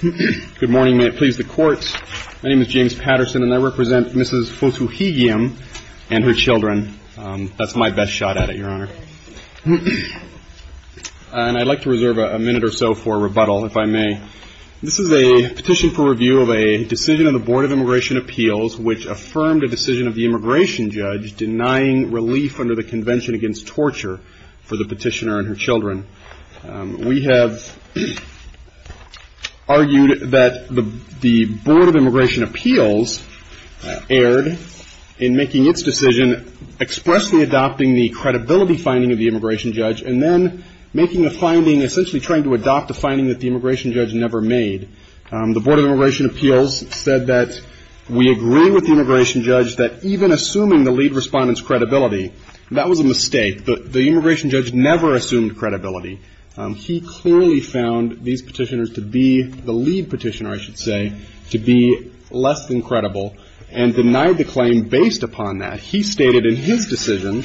Good morning. May it please the courts, my name is James Patterson and I represent Mrs. Fotoohighiam and her children. That's my best shot at it, Your Honor. And I'd like to reserve a minute or so for rebuttal, if I may. This is a petition for review of a decision of the Board of Immigration Appeals which affirmed a decision of the immigration judge denying relief under the Convention Against Torture for the petitioner and her children. We have argued that the Board of Immigration Appeals erred in making its decision expressly adopting the credibility finding of the immigration judge and then making a finding, essentially trying to adopt a finding that the immigration judge never made. The Board of Immigration Appeals said that we agree with the immigration judge that even assuming the lead respondent's credibility, that was a mistake. The immigration judge never assumed credibility. He clearly found these petitioners to be, the lead petitioner I should say, to be less than credible and denied the claim based upon that. He stated in his decision,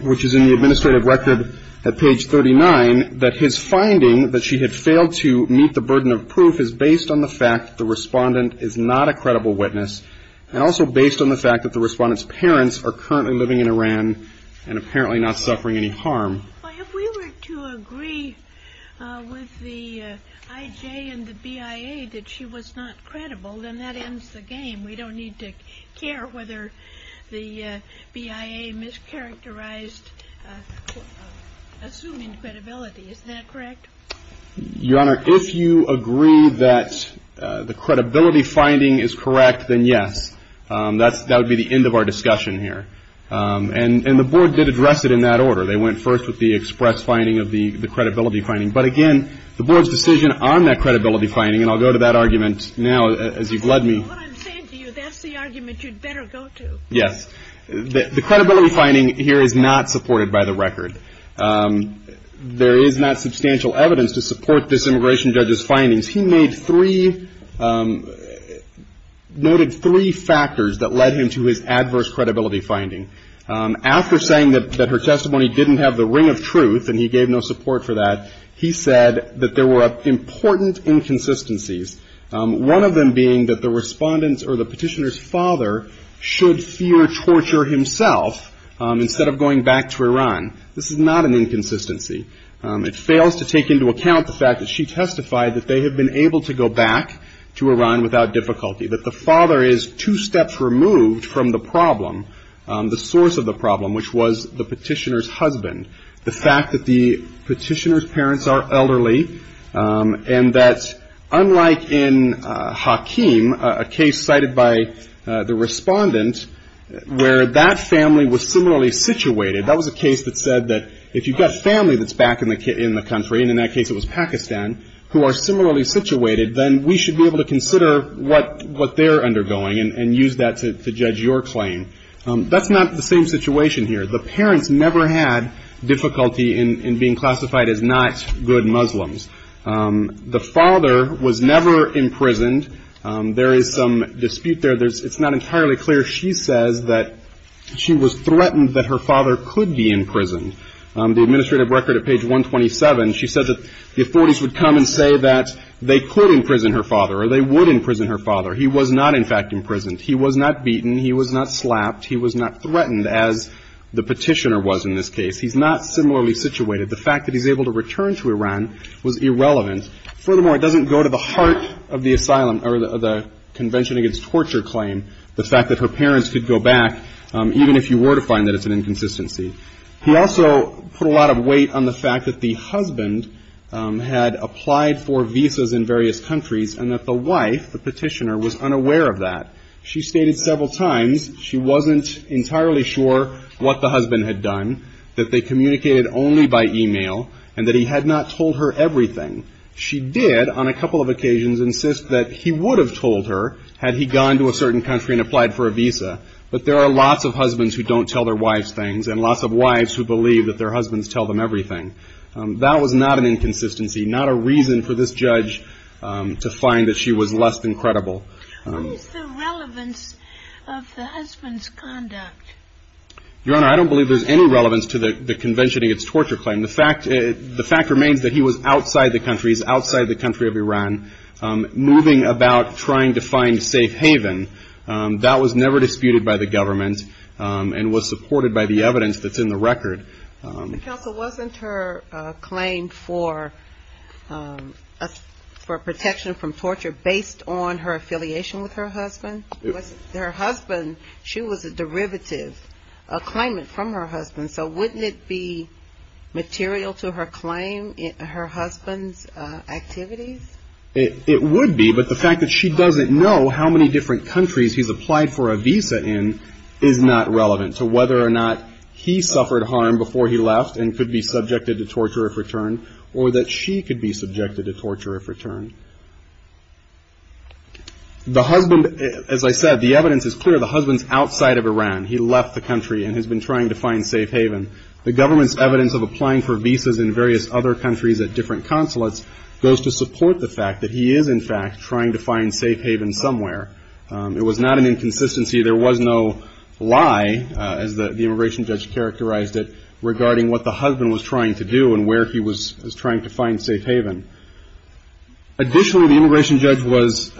which is in the administrative record at page 39, that his finding that she had failed to meet the burden of proof is based on the fact that the respondent is not a credible witness and also based on the fact that the respondent's parents are currently living in Iran and apparently not suffering any harm. But if we were to agree with the IJ and the BIA that she was not credible, then that ends the game. We don't need to care whether the BIA mischaracterized assuming credibility. Is that correct? Your Honor, if you agree that the credibility finding is correct, then yes. That would be the end of our discussion here. And the board did address it in that order. They went first with the express finding of the credibility finding. But again, the board's decision on that credibility finding, and I'll go to that argument now as you've led me. Well, what I'm saying to you, that's the argument you'd better go to. Yes. The credibility finding here is not supported by the record. There is not substantial evidence to support this immigration judge's findings. He made three, noted three factors that led him to his adverse credibility finding. After saying that her testimony didn't have the ring of truth and he gave no support for that, he said that there were important inconsistencies, one of them being that the respondent's or the petitioner's father should fear torture himself instead of going back to Iran. This is not an inconsistency. It fails to take into account the fact that she testified that they have been able to go back to Iran without difficulty, that the father is two steps removed from the problem, the source of the problem, which was the petitioner's husband. The fact that the petitioner's parents are elderly and that unlike in Hakeem, a case cited by the respondent, where that family was similarly situated, that was a case that said that if you've got family that's back in the country, and in that case it was Pakistan, who are similarly situated, then we should be able to consider what they're undergoing and use that to judge your claim. That's not the same situation here. The parents never had difficulty in being classified as not good Muslims. The father was never imprisoned. There is some dispute there. It's not entirely clear. She says that she was threatened that her father could be imprisoned. The administrative record at page 127, she said that the authorities would come and say that they could imprison her father or they would imprison her father. He was not, in fact, imprisoned. He was not beaten. He was not slapped. He was not threatened, as the petitioner was in this case. He's not similarly situated. The fact that he's able to return to Iran was irrelevant. Furthermore, it doesn't go to the heart of the asylum or the Convention Against Torture claim, the fact that her parents could go back, even if you were to find that it's an inconsistency. He also put a lot of weight on the fact that the husband had applied for visas in various countries and that the wife, the petitioner, was unaware of that. She stated several times she wasn't entirely sure what the husband had done, that they communicated only by e-mail, and that he had not told her everything. She did, on a couple of occasions, insist that he would have told her had he gone to a certain country and applied for a visa. But there are lots of husbands who don't tell their wives things, and lots of wives who believe that their husbands tell them everything. That was not an inconsistency, not a reason for this judge to find that she was less than credible. What is the relevance of the husband's conduct? Your Honor, I don't believe there's any relevance to the Convention Against Torture claim. The fact remains that he was outside the country, he's outside the country of Iran, moving about trying to find safe haven. That was never disputed by the government and was supported by the evidence that's in the record. The counsel, wasn't her claim for protection from torture based on her affiliation with her husband? Her husband, she was a derivative, a claimant from her husband, so wouldn't it be material to her claim, her husband's activities? It would be, but the fact that she doesn't know how many different countries he's applied for a visa in is not relevant to whether or not he suffered harm before he left and could be subjected to torture if returned, or that she could be subjected to torture if returned. The husband, as I said, the evidence is clear, the husband's outside of Iran. He left the country and has been trying to find safe haven. The government's evidence of applying for the visa is clear, but the fact that he is in fact trying to find safe haven somewhere. It was not an inconsistency, there was no lie as the immigration judge characterized it regarding what the husband was trying to do and where he was trying to find safe haven. Additionally, the immigration judge was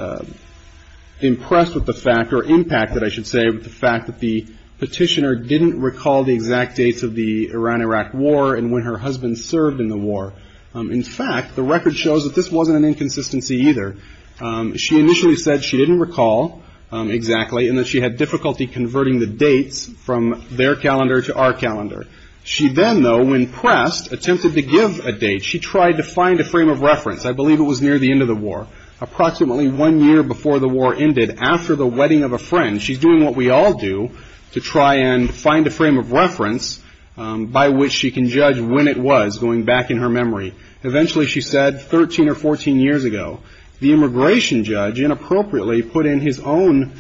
impressed with the fact, or impacted I should say, with the fact that the petitioner didn't recall the exact dates of the Iran-Iraq war and when her husband served in the war. In fact, the record shows that this wasn't an inconsistency either. She initially said she didn't recall exactly and that she had difficulty converting the dates from their calendar to our calendar. She then, though, when pressed, attempted to give a date. She tried to find a frame of reference. I believe it was near the end of the war. Approximately one year before the war ended, after the wedding of a friend, she's doing what we all do to try and find a frame of reference by which she can judge when it was going back in her memory. Eventually, she said, 13 or 14 years ago, the immigration judge inappropriately put in his own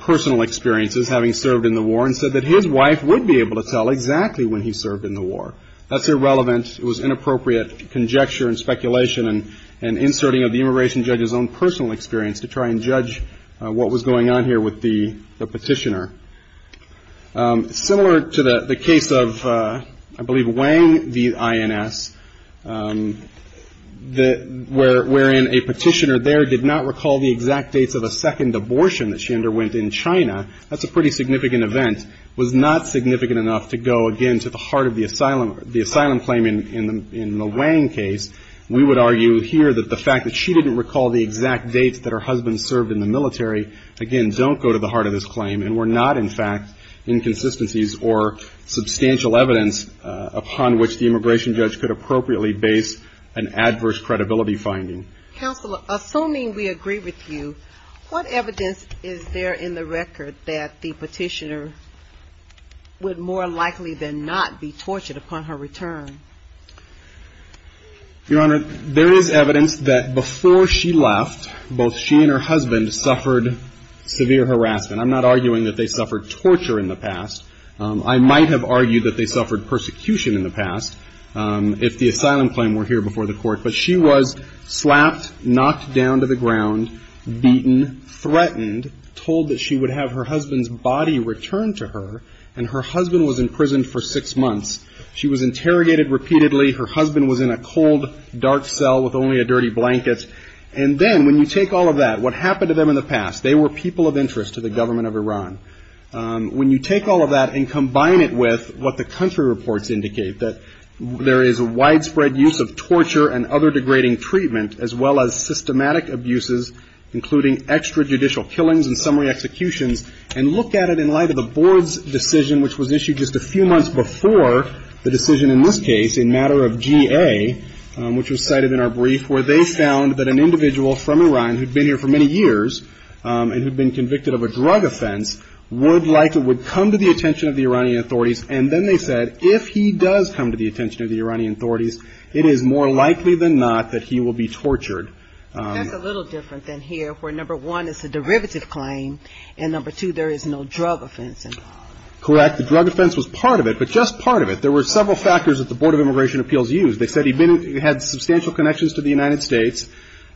personal experiences having served in the war and said that his wife would be able to tell exactly when he served in the war. That's irrelevant. It was inappropriate conjecture and speculation and inserting of the immigration judge's own personal experience to try and judge what was going on here with the petitioner. Similar to the case of, I believe, Wang, the INS, wherein a petitioner there did not recall the exact dates of a second abortion that she underwent in China. That's a pretty significant event. It was not significant enough to go, again, to the heart of the asylum claim in the Wang case. We would argue here that the fact that she didn't recall the exact dates that her husband served in the military, again, don't go to the heart of this claim and were not, in fact, inconsistencies or substantial evidence upon which the immigration judge could appropriately base an adverse credibility finding. Counsel, assuming we agree with you, what evidence is there in the record that the petitioner would more likely than not be tortured upon her return? Your Honor, there is evidence that before she left, both she and her husband suffered severe harassment. I'm not arguing that they suffered torture in the past. I might have argued that they suffered persecution in the past, if the asylum claim were here before the court. But she was slapped, knocked down to the ground, beaten, threatened, told that she would have her husband's body returned to her, and her husband was imprisoned for six months. She was interrogated repeatedly. Her husband was in a cold, dark cell with only a dirty blanket. And then when you take all of that, what happened to them in the past, they were people of interest to the government of Iran. When you take all of that and combine it with what the country reports indicate, that there is widespread use of torture and other degrading treatment, as well as systematic abuses, including extrajudicial killings and summary executions, and look at it in light of the board's decision, which was issued just a few months before the decision in this case, in matter of GA, which was cited in our brief, where they found that an individual from Iran who had been here for many years, and who had been convicted of a drug offense, would likely come to the attention of the Iranian authorities. And then they said, if he does come to the attention of the Iranian authorities, it is more likely than not that he will be tortured. That's a little different than here, where number one, it's a derivative claim, and number two, there is no drug offense involved. Correct. The drug offense was part of it, but just part of it. There were several factors that the Board of Immigration Appeals used. They said he had substantial connections to the United States,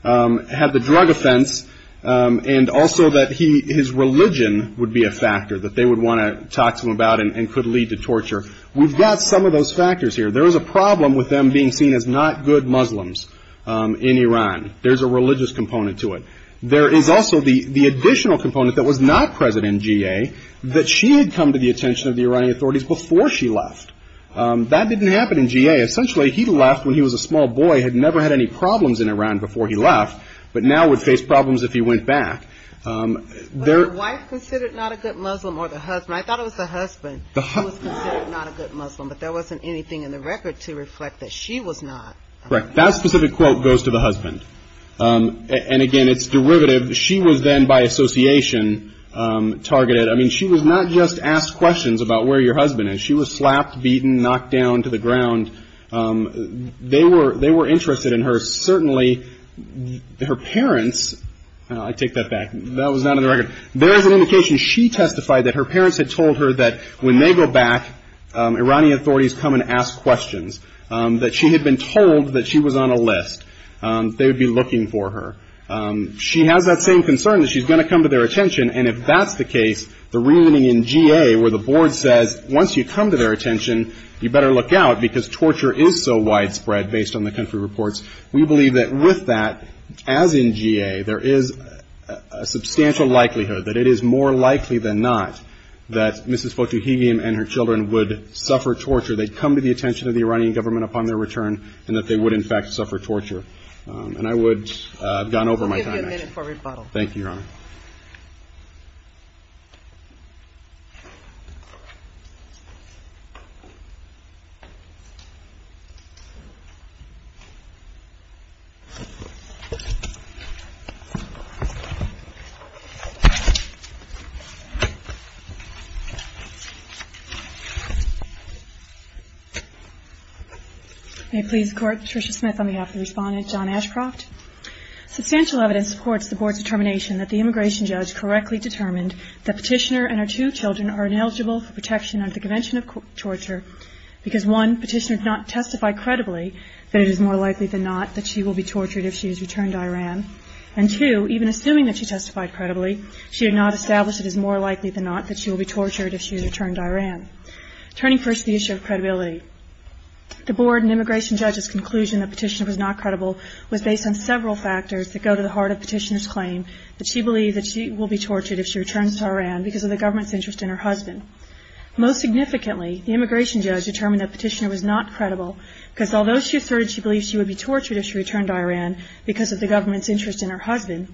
had the drug offense, and also that his religion would be a factor, that they would want to talk to him about and could lead to torture. We've got some of those factors here. There is a problem with them being seen as not good Muslims in Iran. There's a religious component to it. There is also the additional component that was not present in G.A. that she had come to the attention of the Iranian authorities before she left. That didn't happen in G.A. Essentially, he left when he was a small boy, had never had any problems in Iran before he left, but now would face problems if he went back. Was the wife considered not a good Muslim, or the husband? I thought it was the husband who was considered not a good Muslim, but there wasn't anything in the record to reflect that she was not. Correct. That specific quote goes to the husband. And again, it's derivative. She was then, by association, targeted. I mean, she was not just asked questions about where your husband is. She was slapped, beaten, knocked down to the ground. They were interested in her. Certainly, her parents, I take that back. That was not in the record. There is an indication she testified that her parents had told her that when they go back, Iranian authorities come and ask questions, that she had been told that she was on a list. They would be going to come to their attention. And if that's the case, the reunion in G.A. where the board says, once you come to their attention, you better look out because torture is so widespread, based on the country reports, we believe that with that, as in G.A., there is a substantial likelihood that it is more likely than not that Mrs. Fotouhimi and her children would suffer torture, they'd come to the attention of the Iranian government upon their return, and that they would, in fact, suffer torture. And I would have gone over my time. We'll give you a minute for rebuttal. Thank you, Your Honor. May it please the Court, Trisha Smith on behalf of the Respondent, John Ashcroft. Substantial evidence supports the Board's determination that the immigration judge correctly determined that Petitioner and her two children are ineligible for protection under the Convention of Torture because, one, Petitioner did not testify credibly that it is more likely than not that she will be tortured if she is returned to Iran. And, two, even assuming that she testified credibly, she did not establish it is more likely than not that she will be tortured if she is returned to Iran. Turning first to the issue of credibility, the Board and immigration judge's conclusion that Petitioner was not credible was based on several factors that go to the heart of Petitioner's claim that she believed that she will be tortured if she returns to Iran because of the government's interest in her husband. Most significantly, the immigration judge determined that Petitioner was not credible because, although she asserted she believed she would be tortured if she returned to Iran because of the government's interest in her husband,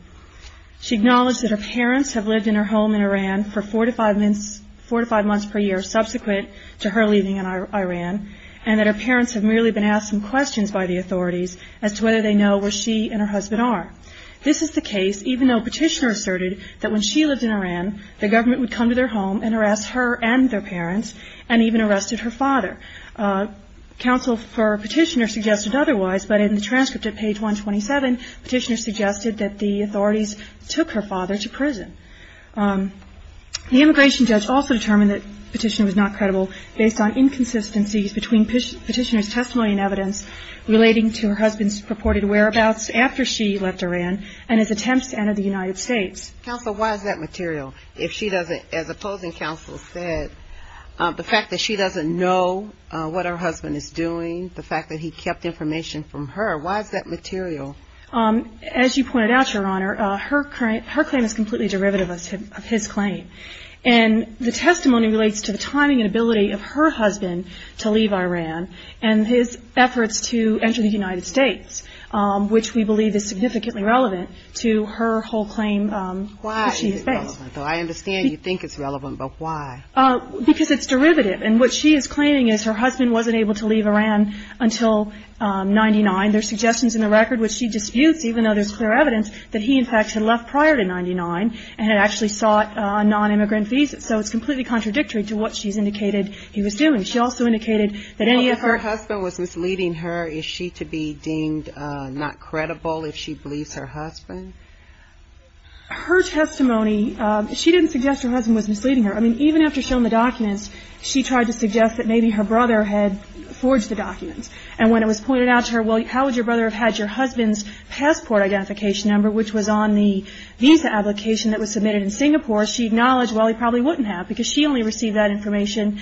she acknowledged that her parents have lived in her home in Iran for four to five months per year subsequent to her leaving Iran, and that her parents have merely been asked some questions by the authorities as to whether they know where she and her husband are. This is the case even though Petitioner asserted that when she lived in Iran, the government would come to their home and harass her and their parents, and even arrested her father. Counsel for Petitioner suggested otherwise, but in the transcript at page 127, Petitioner suggested that the authorities took her father to prison. The immigration judge also determined that Petitioner was not credible based on inconsistencies between Petitioner's testimony and evidence relating to her husband's purported whereabouts after she left Iran and his attempts to enter the United States. Counsel, why is that material? If she doesn't, as opposing counsel said, the fact that she doesn't know what her husband is doing, the fact that he kept information from her, why is that material? As you pointed out, Your Honor, her claim is completely derivative of his claim. And the testimony relates to the timing and ability of her husband to leave Iran and his efforts to enter the United States, which we believe is significantly relevant to her whole claim that she has made. Why is it relevant? I understand you think it's relevant, but why? Because it's derivative. And what she is claiming is her husband wasn't able to leave Iran until 1999. There are suggestions in the record which she disputes, even though there's clear evidence, that he in fact had left prior to 1999 and had actually sought a nonimmigrant visa. So it's completely contradictory to what she's indicated he was doing. She also indicated that any of her If her husband was misleading her, is she to be deemed not credible if she believes her husband? Her testimony, she didn't suggest her husband was misleading her. I mean, even after showing the documents, she tried to suggest that maybe her brother had forged the documents. And when it was pointed out to her, well, how would your brother have had your husband's passport identification number, which was on the visa application that was submitted in Singapore, she acknowledged, well, he probably wouldn't have, because she only received that information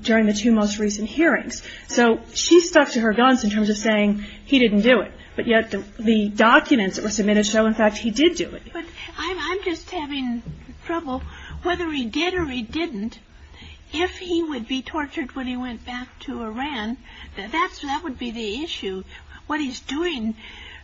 during the two most recent hearings. So she stuck to her guns in terms of saying he didn't do it. But yet the documents that were submitted show, in fact, he did do it. But I'm just having trouble. Whether he did or he didn't, if he would be tortured when he went back to Iran, that would be the issue. What he's doing,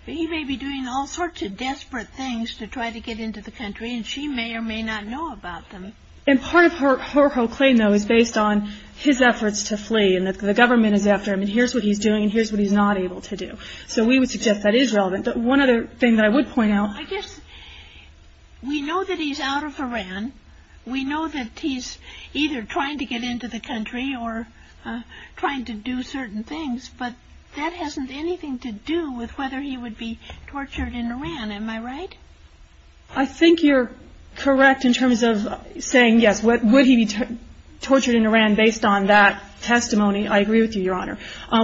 he may be doing all sorts of desperate things to try to get into the country, and she may or may not know about them. And part of her whole claim, though, is based on his efforts to flee, and that the government is after him, and here's what he's doing, and here's what he's not able to do. So we would suggest that is relevant. But one other thing that I would point out I guess we know that he's out of Iran. We know that he's either trying to get into the country or trying to do certain things. But that hasn't anything to do with whether he would be tortured in Iran. Am I right? I think you're correct in terms of saying, yes, would he be tortured in Iran based on that testimony. I agree with you, Your Honor.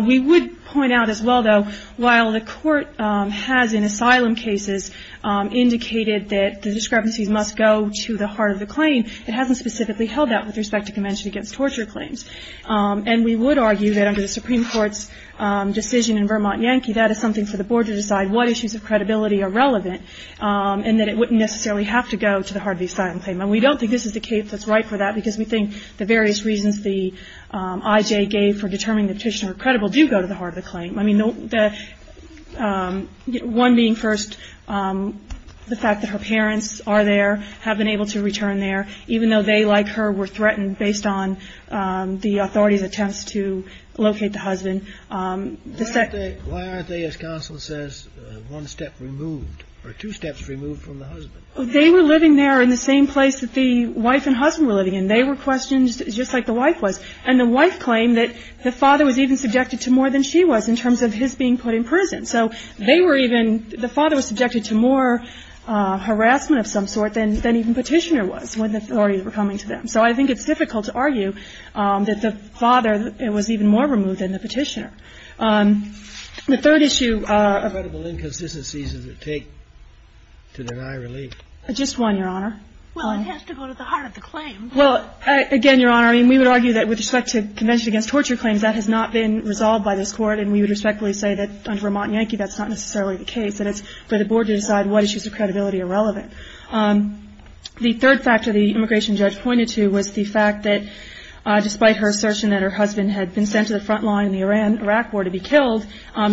We would point out as well, though, while the Court has in asylum cases indicated that the discrepancies must go to the heart of the claim, it hasn't specifically held that with respect to Convention Against Torture claims. And we would argue that under the Supreme Court's decision in Vermont Yankee, that is something for the Board to decide what issues of credibility are relevant, and that it wouldn't necessarily have to go to the heart of the asylum claim. And we don't think this is the case that's right for that, because we think the various reasons the IJ gave for determining the petitioner credible do go to the heart of the claim. I mean, one being, first, the fact that her parents are there, have been able to return there, even though they, like her, were threatened based on the authorities' attempts to locate the husband. And the second... Why aren't they, as counsel says, one step removed, or two steps removed from the husband? They were living there in the same place that the wife and husband were living in. They were questioned just like the wife was. And the wife claimed that the father was even subjected to more than she was in terms of his being put in prison. So they were even – the father was subjected to more harassment of some sort than even Petitioner was when the authorities were coming to them. So I think it's difficult to argue that the father was even more removed than the Petitioner. The third issue... What credible inconsistencies does it take to deny relief? Just one, Your Honor. Well, it has to go to the heart of the claim. Well, again, Your Honor, I mean, we would argue that with respect to Convention Against Torture claims, that has not been resolved by this Court. And we would respectfully say that under a Montagnanchi, that's not necessarily the case. And it's for the Board to decide what issues of credibility are relevant. The third factor the immigration judge pointed to was the fact that despite her assertion that her husband had been sent to the front line in the Iran-Iraq War to be killed,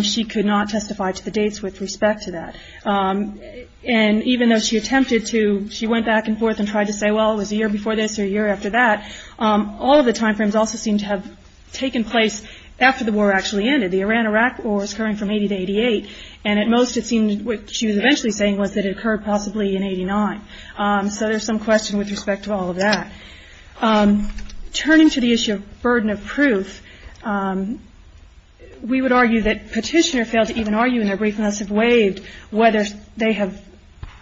she could not testify to the dates with respect to that. And even though she attempted to, she went back and forth and tried to say, well, it was a year before this or a year after that, all of the time frames also seemed to have taken place after the war actually ended. The Iran-Iraq War was occurring from 1980 to 1988. And at most, it seemed, what she was eventually saying was that it occurred possibly in 1989. So there's some question with respect to all of that. Turning to the issue of burden of proof, we would argue that Petitioner failed to even argue in their brief unless it waived whether they have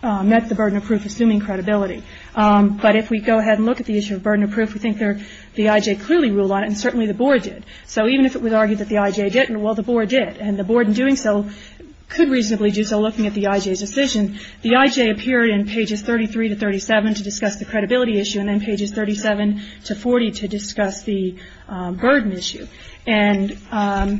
met the burden of proof assuming credibility. But if we go ahead and look at the issue of burden of proof, we think the I.J. clearly ruled on it, and certainly the Board did. So even if it was argued that the I.J. didn't, well, the Board did. And the Board in doing so could reasonably do so looking at the I.J.'s decision. The I.J. appeared in pages 33 to 37 to discuss the credibility issue, and then pages 37 to 40 to discuss the burden issue. And on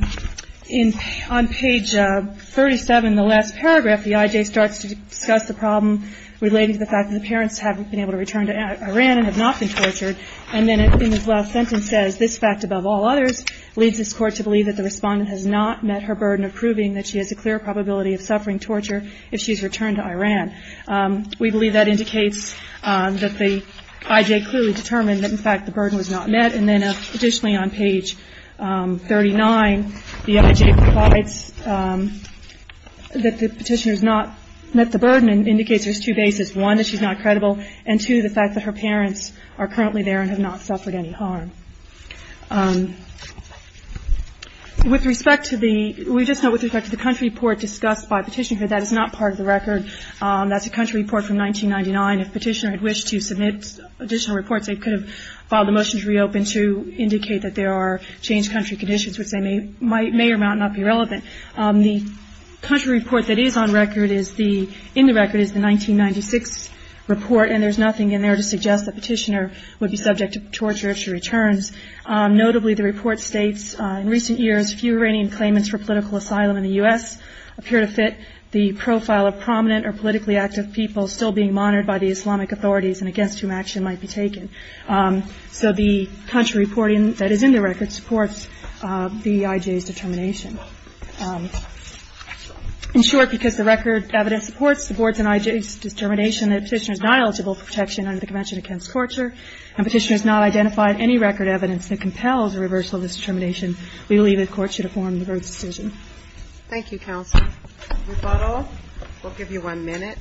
page 37, the last paragraph, the I.J. starts to discuss the problem relating to the fact that the parents haven't been able to return to Iran and have not been tortured. And then in his last sentence says, this fact above all others leads this Court to believe that the respondent has not met her burden of proving that she has a clear probability of suffering torture if she's returned to Iran. We believe that indicates that the I.J. clearly determined that, in fact, the burden was not met. And then additionally on page 39, the I.J. provides that the Petitioner has not met the burden and indicates there's two bases, one, that she's not credible, and two, the fact that her parents are currently there and have not suffered any harm. With respect to the – we just note with respect to the country report discussed by Petitioner, that is not part of the record. That's a country report from 1999. If Petitioner had wished to submit additional reports, they could have filed a motion to reopen to indicate that there are changed country conditions, which they may or might not be relevant. The country report that is on record is the – in the record is the 1996 report, and there's nothing in there to suggest that Petitioner would be subject to torture if she returns. Notably, the report states, in recent years, few Iranian claimants for political asylum in the U.S. appear to fit the profile of prominent or politically active people still being monitored by the Islamic authorities and against whom action might be taken. So the country reporting that is in the record supports the I.J.'s determination. In short, because the record evidence supports the Board's and I.J.'s determination that Petitioner is not eligible for protection under the Convention Against Torture and Petitioner has not identified any record evidence that compels a reversal of this determination, we believe the Court should affirm the Board's decision. Thank you, counsel. Rebuttal. We'll give you one minute.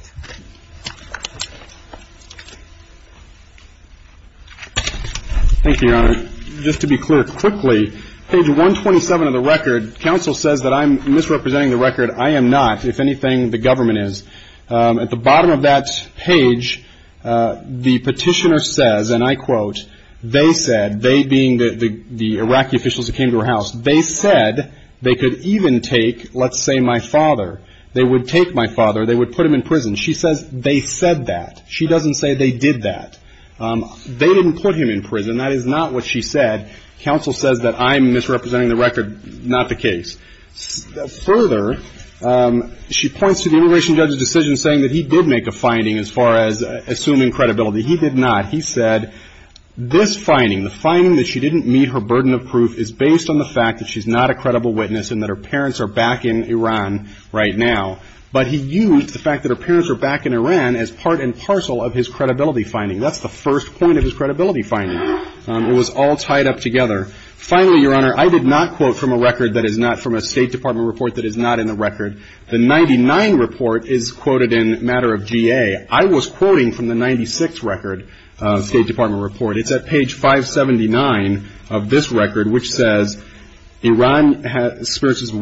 Thank you, Your Honor. Just to be clear, quickly, page 127 of the record, counsel says that I'm misrepresenting the record. I am not, if anything, the government is. At the bottom of that page, the Petitioner says, and I quote, they said, they being the Iraqi officials who came to her house, they said they could even take, let's say, my father. They would take my father. They would put him in prison. She says they said that. She doesn't say they did that. They didn't put him in prison. That is not what she said. Counsel says that I'm misrepresenting the record, not the case. Further, she points to the immigration judge's decision saying that he did make a finding as far as assuming credibility. He did not. He said, this finding, the finding that she didn't meet her burden of proof is based on the fact that she's not a credible witness and that her parents are back in Iran right now. But he used the fact that her parents are back in Iran as part and parcel of his credibility finding. That's the first point of his credibility finding. It was all tied up together. Finally, Your Honor, I did not quote from a record that is not from a State Department report that is not in the record. The 99 report is quoted in a matter of GA. I was quoting from the 96 record, State Department report. It's at page 579 of this record, which says Iran has, spurs its widespread influence on the U.S. economy.